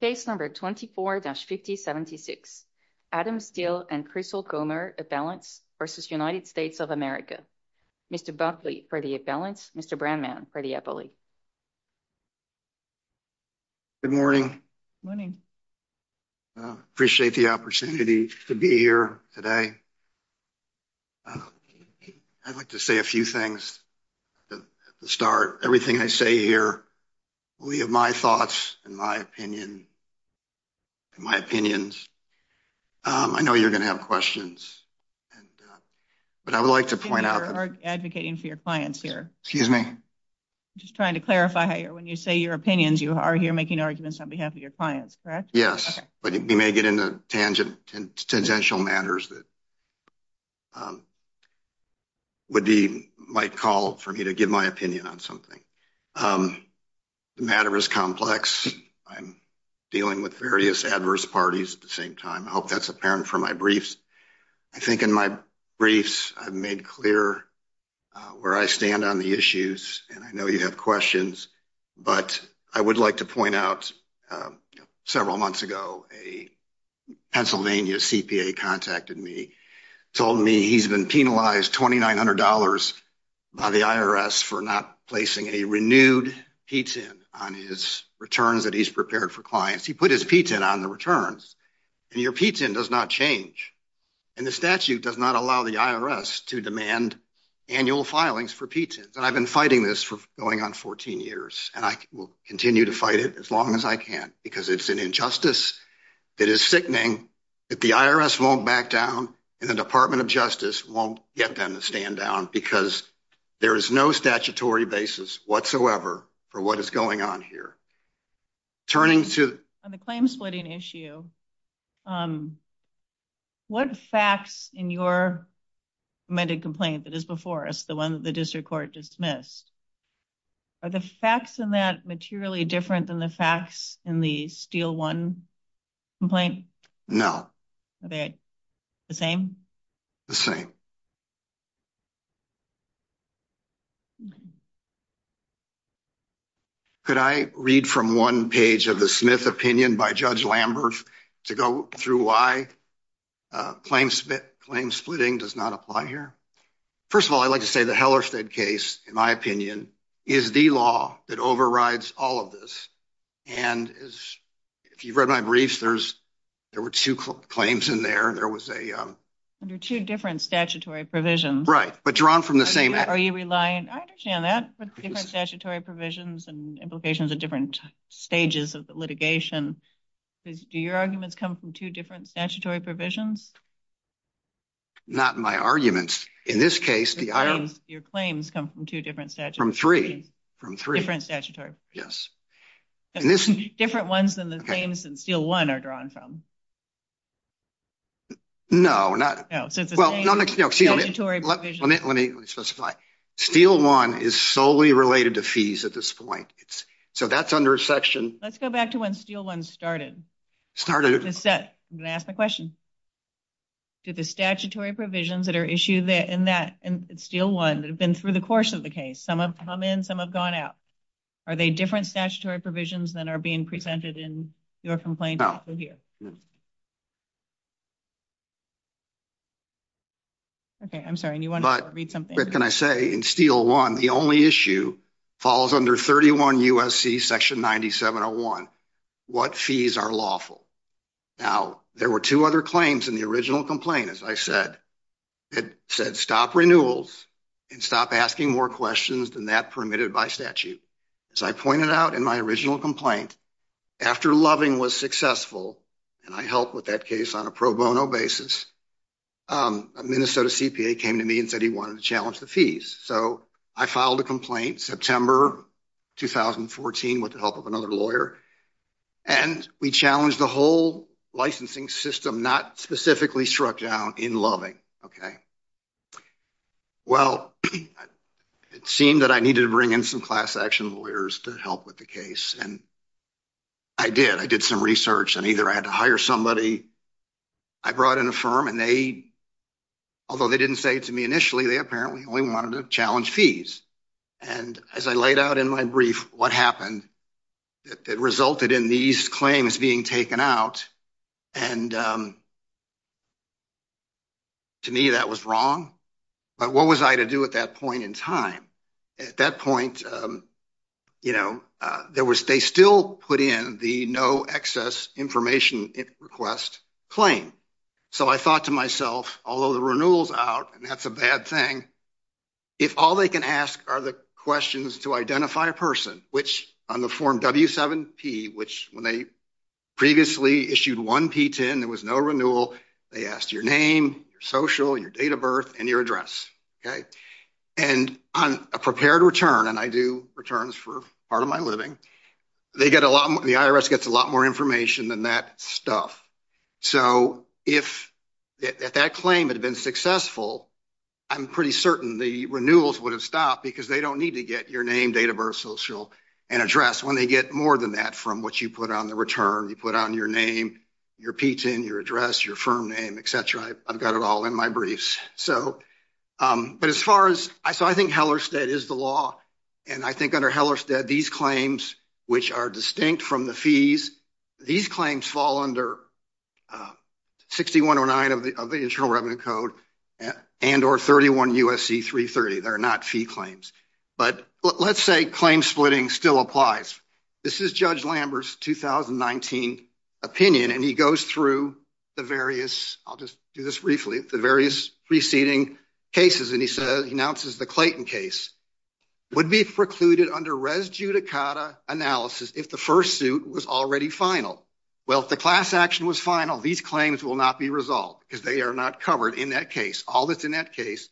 Case number 24-5076, Adam Steele and Chris Olcomer, a balance versus United States of America. Mr. Brantley for the balance, Mr. Brandman for the Epoly. Good morning. Morning. Appreciate the opportunity to be here today. I'd like to say a few things. Start everything I say here. We have my thoughts and my opinion. My opinions. I know you're going to have questions. But I would like to point out advocating for your clients here. Excuse me. Just trying to clarify when you say your opinions, you are here making arguments on behalf of your clients, correct? Yes, but we may get into tangential matters that would be might call for me to give my opinion on something. The matter is complex. I'm dealing with various adverse parties at the same time. I hope that's apparent for my briefs. I think in my briefs, I've made clear where I stand on the issues, and I know you have questions. But I would like to point out several months ago, a Pennsylvania CPA contacted me, told me he's been penalized $2,900 by the IRS for not placing a renewed PTIN on his returns that he's prepared for clients. He put his PTIN on the returns, and your PTIN does not change, and the statute does not allow the IRS to demand annual filings for PTINs. And I've been fighting this for going on 14 years, and I will continue to fight it as long as I can because it's an injustice that is sickening that the IRS won't back down, and the Department of Justice won't get them to stand down because there is no statutory basis whatsoever for what is going on here. On the claim splitting issue, what facts in your amended complaint that is before us, the one that the district court dismissed, are the facts in that materially different than the facts in the Steel One complaint? No. Are they the same? The same. Could I read from one page of the Smith opinion by Judge Lambert to go through why claim splitting does not apply here? First of all, I'd like to say the Hellersted case, in my opinion, is the law that overrides all of this. And if you've read my briefs, there were two claims in there. There are two different statutory provisions. Right, but drawn from the same... Are you relying... I understand that, but different statutory provisions and implications at different stages of litigation. Do your arguments come from two different statutory provisions? Not my arguments. In this case, the IRS... Your claims come from two different statutory provisions. From three. Different statutory. Yes. Different ones than the claims in Steel One are drawn from. No, not... No, so it's the same statutory provisions. Let me specify. Steel One is solely related to fees at this point. So that's under section... Let's go back to when Steel One started. Started... I'm going to ask my question. Did the statutory provisions that are issued in Steel One that have been through the course of the case, some have come in, some have gone out, are they different statutory provisions than are being presented in your complaint? No. Okay, I'm sorry. Do you want to read something? Can I say in Steel One, the only issue falls under 31 U.S.C. section 9701. What fees are lawful? Now, there were two other claims in the original complaint, as I said. It said stop renewals and stop asking more questions than that permitted by statute. As I pointed out in my original complaint, after Loving was successful, and I helped with that case on a pro bono basis, a Minnesota CPA came to me and said he wanted to challenge the fees. So I filed a complaint September 2014 with the help of another lawyer, and we challenged the whole licensing system, not specifically struck down in Loving. Well, it seemed that I needed to bring in some class action lawyers to help with the case, and I did. I did some research, and either I had to hire somebody. I brought in a firm, and they, although they didn't say it to me initially, they apparently only wanted to challenge fees. And as I laid out in my brief what happened, it resulted in these claims being taken out. And to me, that was wrong. But what was I to do at that point in time? At that point, you know, they still put in the no excess information request claim. So I thought to myself, although the renewal is out, and that's a bad thing, if all they can ask are the questions to identify a person, which on the form W7P, which when they previously issued 1P10, there was no renewal, they asked your name, your social, your date of birth, and your address. And on a prepared return, and I do returns for part of my living, they get a lot more, the IRS gets a lot more information than that stuff. So if that claim had been successful, I'm pretty certain the renewals would have stopped, because they don't need to get your name, date of birth, social, and address. When they get more than that from what you put on the return, you put on your name, your P10, your address, your firm name, et cetera, I've got it all in my briefs. But as far as, so I think Hellerstedt is the law, and I think under Hellerstedt, these claims, which are distinct from the fees, these claims fall under 6109 of the Internal Revenue Code, and or 31 U.S.C. 330. They're not fee claims. But let's say claim splitting still applies. This is Judge Lambert's 2019 opinion, and he goes through the various, I'll just do this briefly, the various preceding cases. And he says, he announces the Clayton case would be precluded under res judicata analysis if the first suit was already final. Well, if the class action was final, these claims will not be resolved, because they are not covered in that case. All that's in that case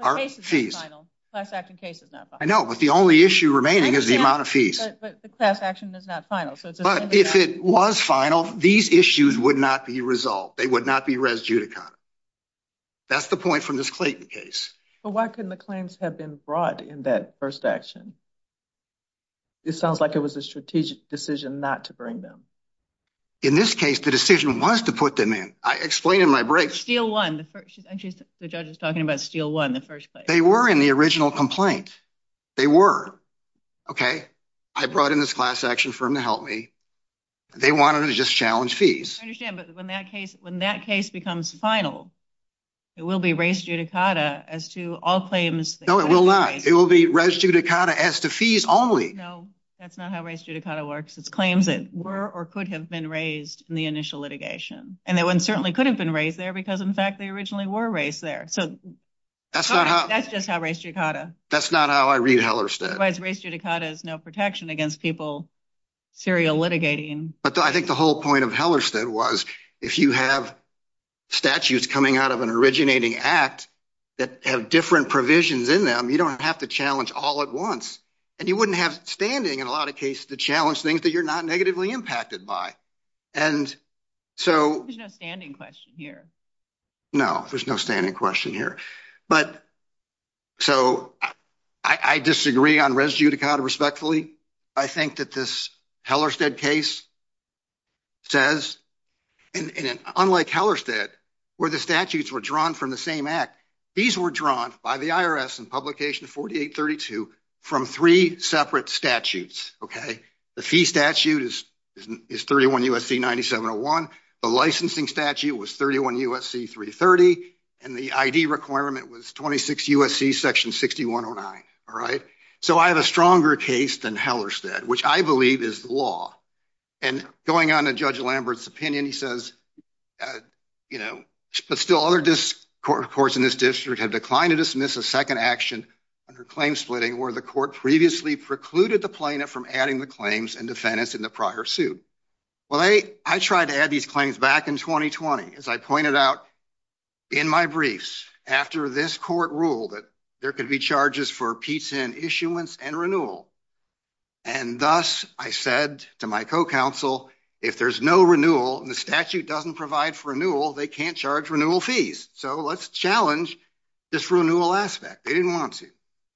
are fees. The class action case is not final. I know, but the only issue remaining is the amount of fees. But the class action is not final. But if it was final, these issues would not be resolved. They would not be res judicata. That's the point from this Clayton case. But why couldn't the claims have been brought in that first action? It sounds like it was a strategic decision not to bring them. In this case, the decision was to put them in. I explained in my briefs. Steal one. The judge was talking about steal one in the first place. They were in the original complaint. They were. Okay. I brought in this class action for him to help me. They wanted to just challenge fees. I understand. But when that case becomes final, it will be res judicata as to all claims. No, it will not. It will be res judicata as to fees only. No, that's not how res judicata works. It's claims that were or could have been raised in the initial litigation. And they certainly couldn't have been raised there, because, in fact, they originally were raised there. So that's just how res judicata. That's not how I read Hellerstedt. Res judicata is no protection against people serial litigating. But I think the whole point of Hellerstedt was if you have statutes coming out of an originating act that have different provisions in them, you don't have to challenge all at once. And you wouldn't have standing in a lot of cases to challenge things that you're not negatively impacted by. And so. There's no standing question here. No, there's no standing question here. But so I disagree on res judicata respectfully. I think that this Hellerstedt case says, unlike Hellerstedt, where the statutes were drawn from the same act, these were drawn by the IRS in publication 4832 from three separate statutes. Okay. The fee statute is 31 U.S.C. 9701. The licensing statute was 31 U.S.C. 330. And the ID requirement was 26 U.S.C. section 6109. All right. So I have a stronger case than Hellerstedt, which I believe is the law. And going on to Judge Lambert's opinion, he says, you know, but still other courts in this district have declined to dismiss a second action under claim splitting where the court previously precluded the plaintiff from adding the claims and defendants in the prior suit. Well, I tried to add these claims back in 2020, as I pointed out in my briefs after this court ruled that there could be charges for pizza and issuance and renewal. And thus, I said to my co-counsel, if there's no renewal and the statute doesn't provide for renewal, they can't charge renewal fees. So let's challenge this renewal aspect. They didn't want to.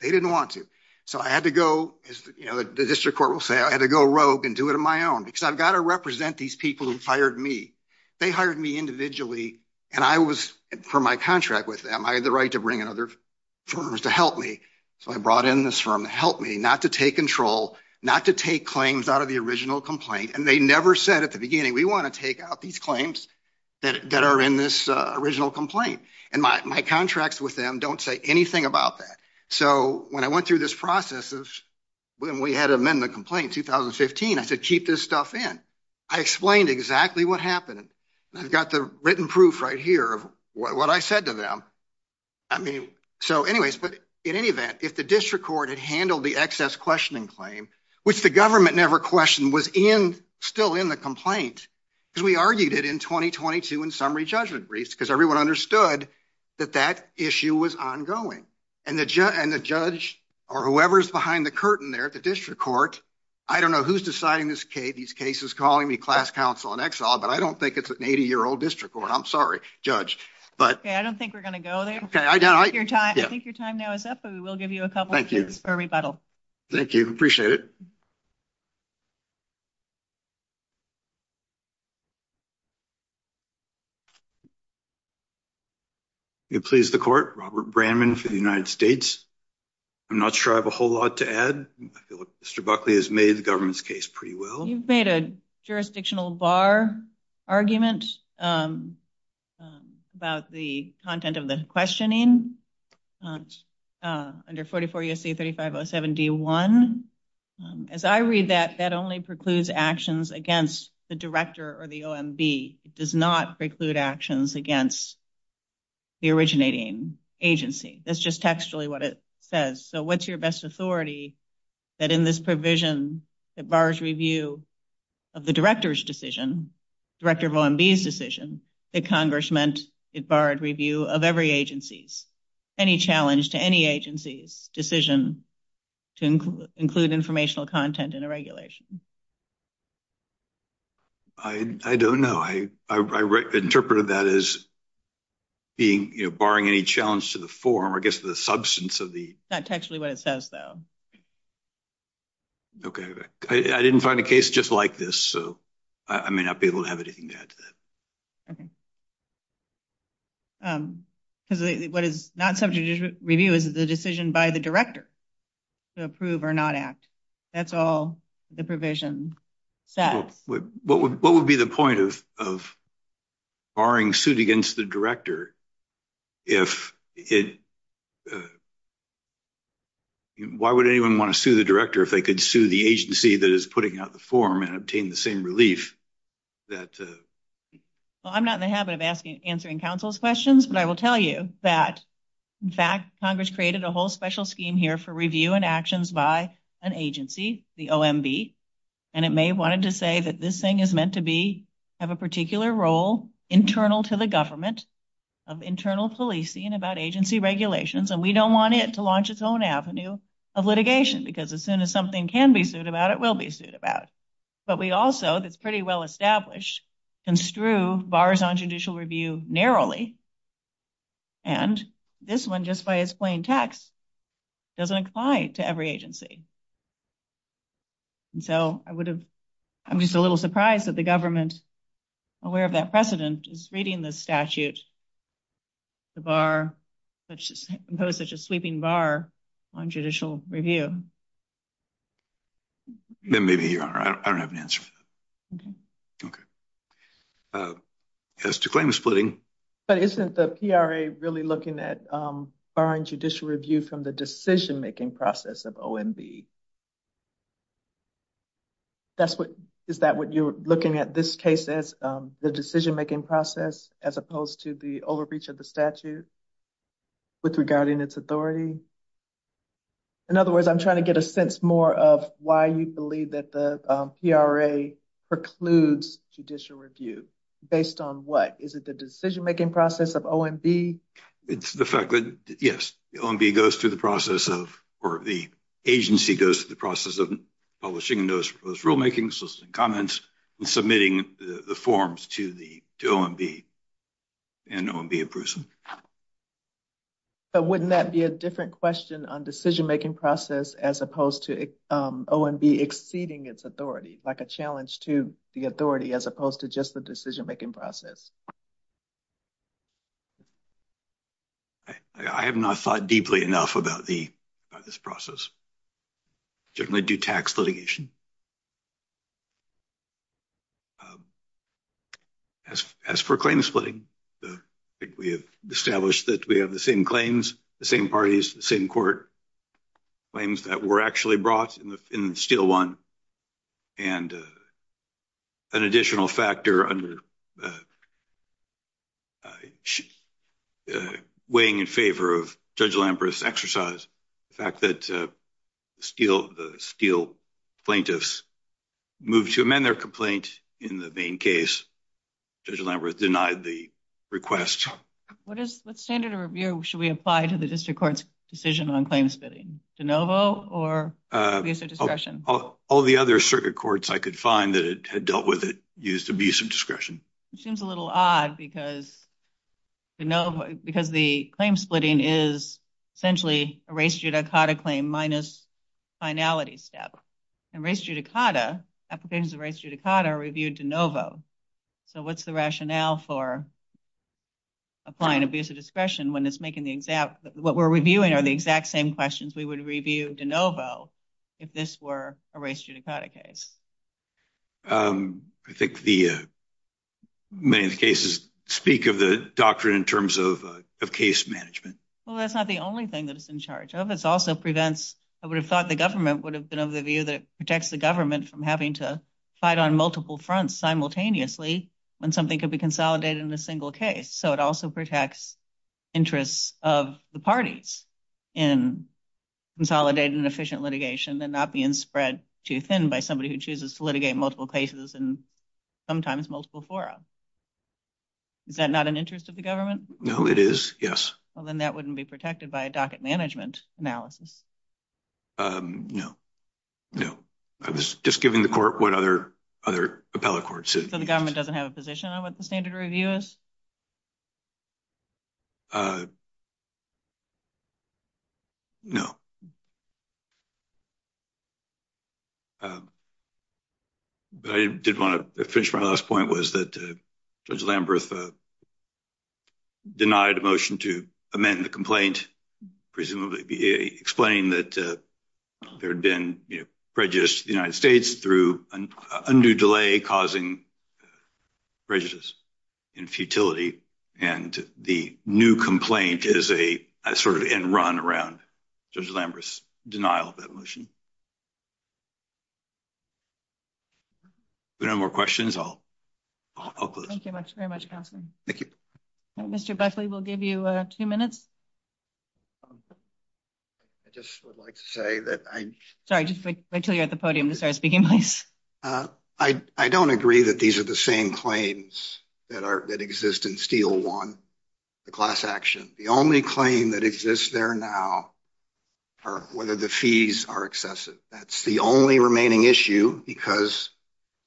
They didn't want to. So I had to go, as the district court will say, I had to go rogue and do it on my own because I've got to represent these people who hired me. They hired me individually. And I was, for my contract with them, I had the right to bring in other firms to help me. So I brought in this firm to help me, not to take control, not to take claims out of the original complaint. And they never said at the beginning, we want to take out these claims that are in this original complaint. And my contracts with them don't say anything about that. So when I went through this process of when we had to amend the complaint in 2015, I said, keep this stuff in. I explained exactly what happened. I've got the written proof right here of what I said to them. I mean, so anyways, but in any event, if the district court had handled the excess questioning claim, which the government never questioned, was still in the complaint, because we argued it in 2022 in summary judgment briefs because everyone understood that that issue was ongoing. And the judge or whoever is behind the curtain there at the district court, I don't know who's deciding these cases, calling me class counsel in exile. But I don't think it's an 80-year-old district court. I'm sorry, judge. Okay, I don't think we're going to go there. I think your time now is up, but we will give you a couple of minutes for rebuttal. Thank you. Appreciate it. You please, the court. Robert Brandman for the United States. I'm not sure I have a whole lot to add. Mr. Buckley has made the government's case pretty well. You've made a jurisdictional bar argument about the content of the questioning under 44 U.S.C. 3507 D1. As I read that, that only precludes actions against the director or the OMB. It does not preclude actions against the originating agency. That's just textually what it says. So what's your best authority that in this provision that bars review of the director's decision, director of OMB's decision, that Congress meant it barred review of every agency's? Any challenge to any agency's decision to include informational content in a regulation? I don't know. I interpreted that as being, you know, barring any challenge to the form or, I guess, the substance of the. That's textually what it says, though. Okay. I didn't find a case just like this, so I may not be able to have anything to add to that. Okay. Because what is not subject to review is the decision by the director to approve or not act. That's all the provision says. What would be the point of barring suit against the director if it. Why would anyone want to sue the director if they could sue the agency that is putting out the form and obtain the same relief that. Well, I'm not in the habit of answering counsel's questions, but I will tell you that, in fact, Congress created a whole special scheme here for review and actions by an agency, the OMB. And it may have wanted to say that this thing is meant to be, have a particular role internal to the government of internal policing about agency regulations. And we don't want it to launch its own avenue of litigation because as soon as something can be sued about, it will be sued about. But we also, that's pretty well established, construe bars on judicial review narrowly. And this one, just by its plain text, doesn't apply to every agency. And so I would have, I'm just a little surprised that the government aware of that precedent is reading the statute. The bar, which is imposed such a sweeping bar on judicial review. Maybe I don't have an answer. Okay. Yes, to claim splitting. But isn't the PRA really looking at barring judicial review from the decision making process of OMB? That's what is that what you're looking at this case as the decision making process, as opposed to the overreach of the statute. With regarding its authority. In other words, I'm trying to get a sense more of why you believe that the PRA precludes judicial review based on what? Is it the decision making process of OMB? It's the fact that, yes, the OMB goes through the process of, or the agency goes through the process of publishing those rulemakings and comments and submitting the forms to the OMB and OMB approves them. But wouldn't that be a different question on decision making process as opposed to OMB exceeding its authority like a challenge to the authority as opposed to just the decision making process? I have not thought deeply enough about the, this process. Generally do tax litigation. As for claim splitting, we have established that we have the same claims, the same parties, the same court claims that were actually brought in the steel one. And an additional factor under weighing in favor of Judge Lamberth's exercise. The fact that steel plaintiffs moved to amend their complaint in the main case, Judge Lamberth denied the request. What standard of review should we apply to the district court's decision on claim splitting? De novo or abuse of discretion? All the other circuit courts I could find that had dealt with it used abuse of discretion. Seems a little odd because the claim splitting is essentially a race judicata claim minus finality step. And race judicata, applications of race judicata are reviewed de novo. So what's the rationale for applying abuse of discretion when it's making the exact, what we're reviewing are the exact same questions we would review de novo if this were a race judicata case? I think the main cases speak of the doctrine in terms of case management. Well, that's not the only thing that it's in charge of. It's also prevents, I would have thought the government would have been of the view that it protects the government from having to fight on multiple fronts simultaneously when something could be consolidated in a single case. So it also protects interests of the parties in consolidating an efficient litigation and not being spread too thin by somebody who chooses to litigate multiple cases and sometimes multiple fora. Is that not an interest of the government? No, it is. Yes. Well, then that wouldn't be protected by a docket management analysis. No, no. I was just giving the court what other other appellate courts. So the government doesn't have a position on what the standard review is. No. But I did want to finish my last point was that Judge Lamberth denied a motion to amend the complaint, presumably explaining that there had been prejudice to the United States through undue delay, causing prejudice and futility. And the new complaint is a sort of in run around Judge Lamberth's denial of that motion. No more questions, I'll close. Thank you very much. Thank you. Mr. Buckley, we'll give you two minutes. I just would like to say that I... Sorry, just wait until you're at the podium to start speaking, please. I don't agree that these are the same claims that exist in Steel One, the class action. The only claim that exists there now are whether the fees are excessive. That's the only remaining issue because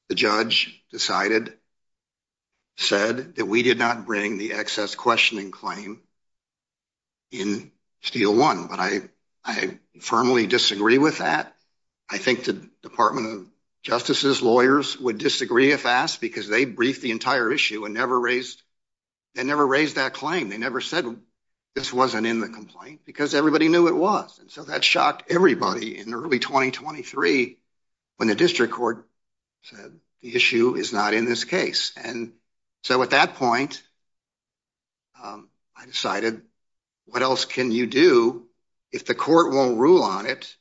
the judge decided, said that we did not bring the excess questioning claim in Steel One. But I firmly disagree with that. I think the Department of Justice's lawyers would disagree if asked because they briefed the entire issue and never raised that claim. They never said this wasn't in the complaint because everybody knew it was. And so that shocked everybody in early 2023 when the district court said the issue is not in this case. And so at that point, I decided what else can you do if the court won't rule on it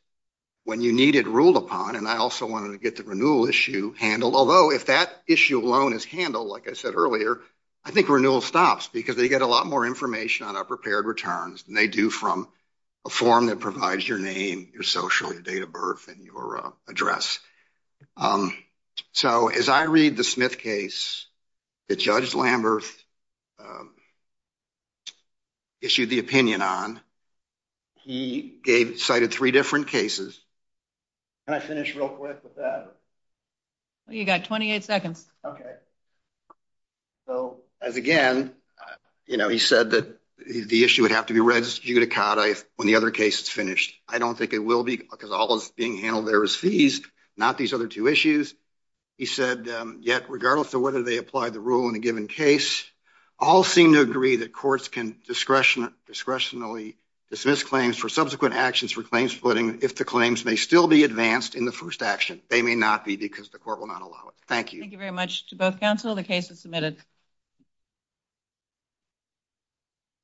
when you need it ruled upon? And I also wanted to get the renewal issue handled, although if that issue alone is handled, like I said earlier, I think renewal stops because they get a lot more information on our prepared returns than they do from a form that provides your name, your social, your date of birth, and your address. So as I read the Smith case that Judge Lamberth issued the opinion on, he cited three different cases. Can I finish real quick with that? You got 28 seconds. OK. So as again, you know, he said that the issue would have to be res judicata when the other case is finished. I don't think it will be because all is being handled there is fees, not these other two issues, he said. Yet, regardless of whether they apply the rule in a given case, all seem to agree that courts can discretion discretionally dismiss claims for subsequent actions for claims splitting. If the claims may still be advanced in the first action, they may not be because the court will not allow it. Thank you. Thank you very much to both counsel. The case is submitted.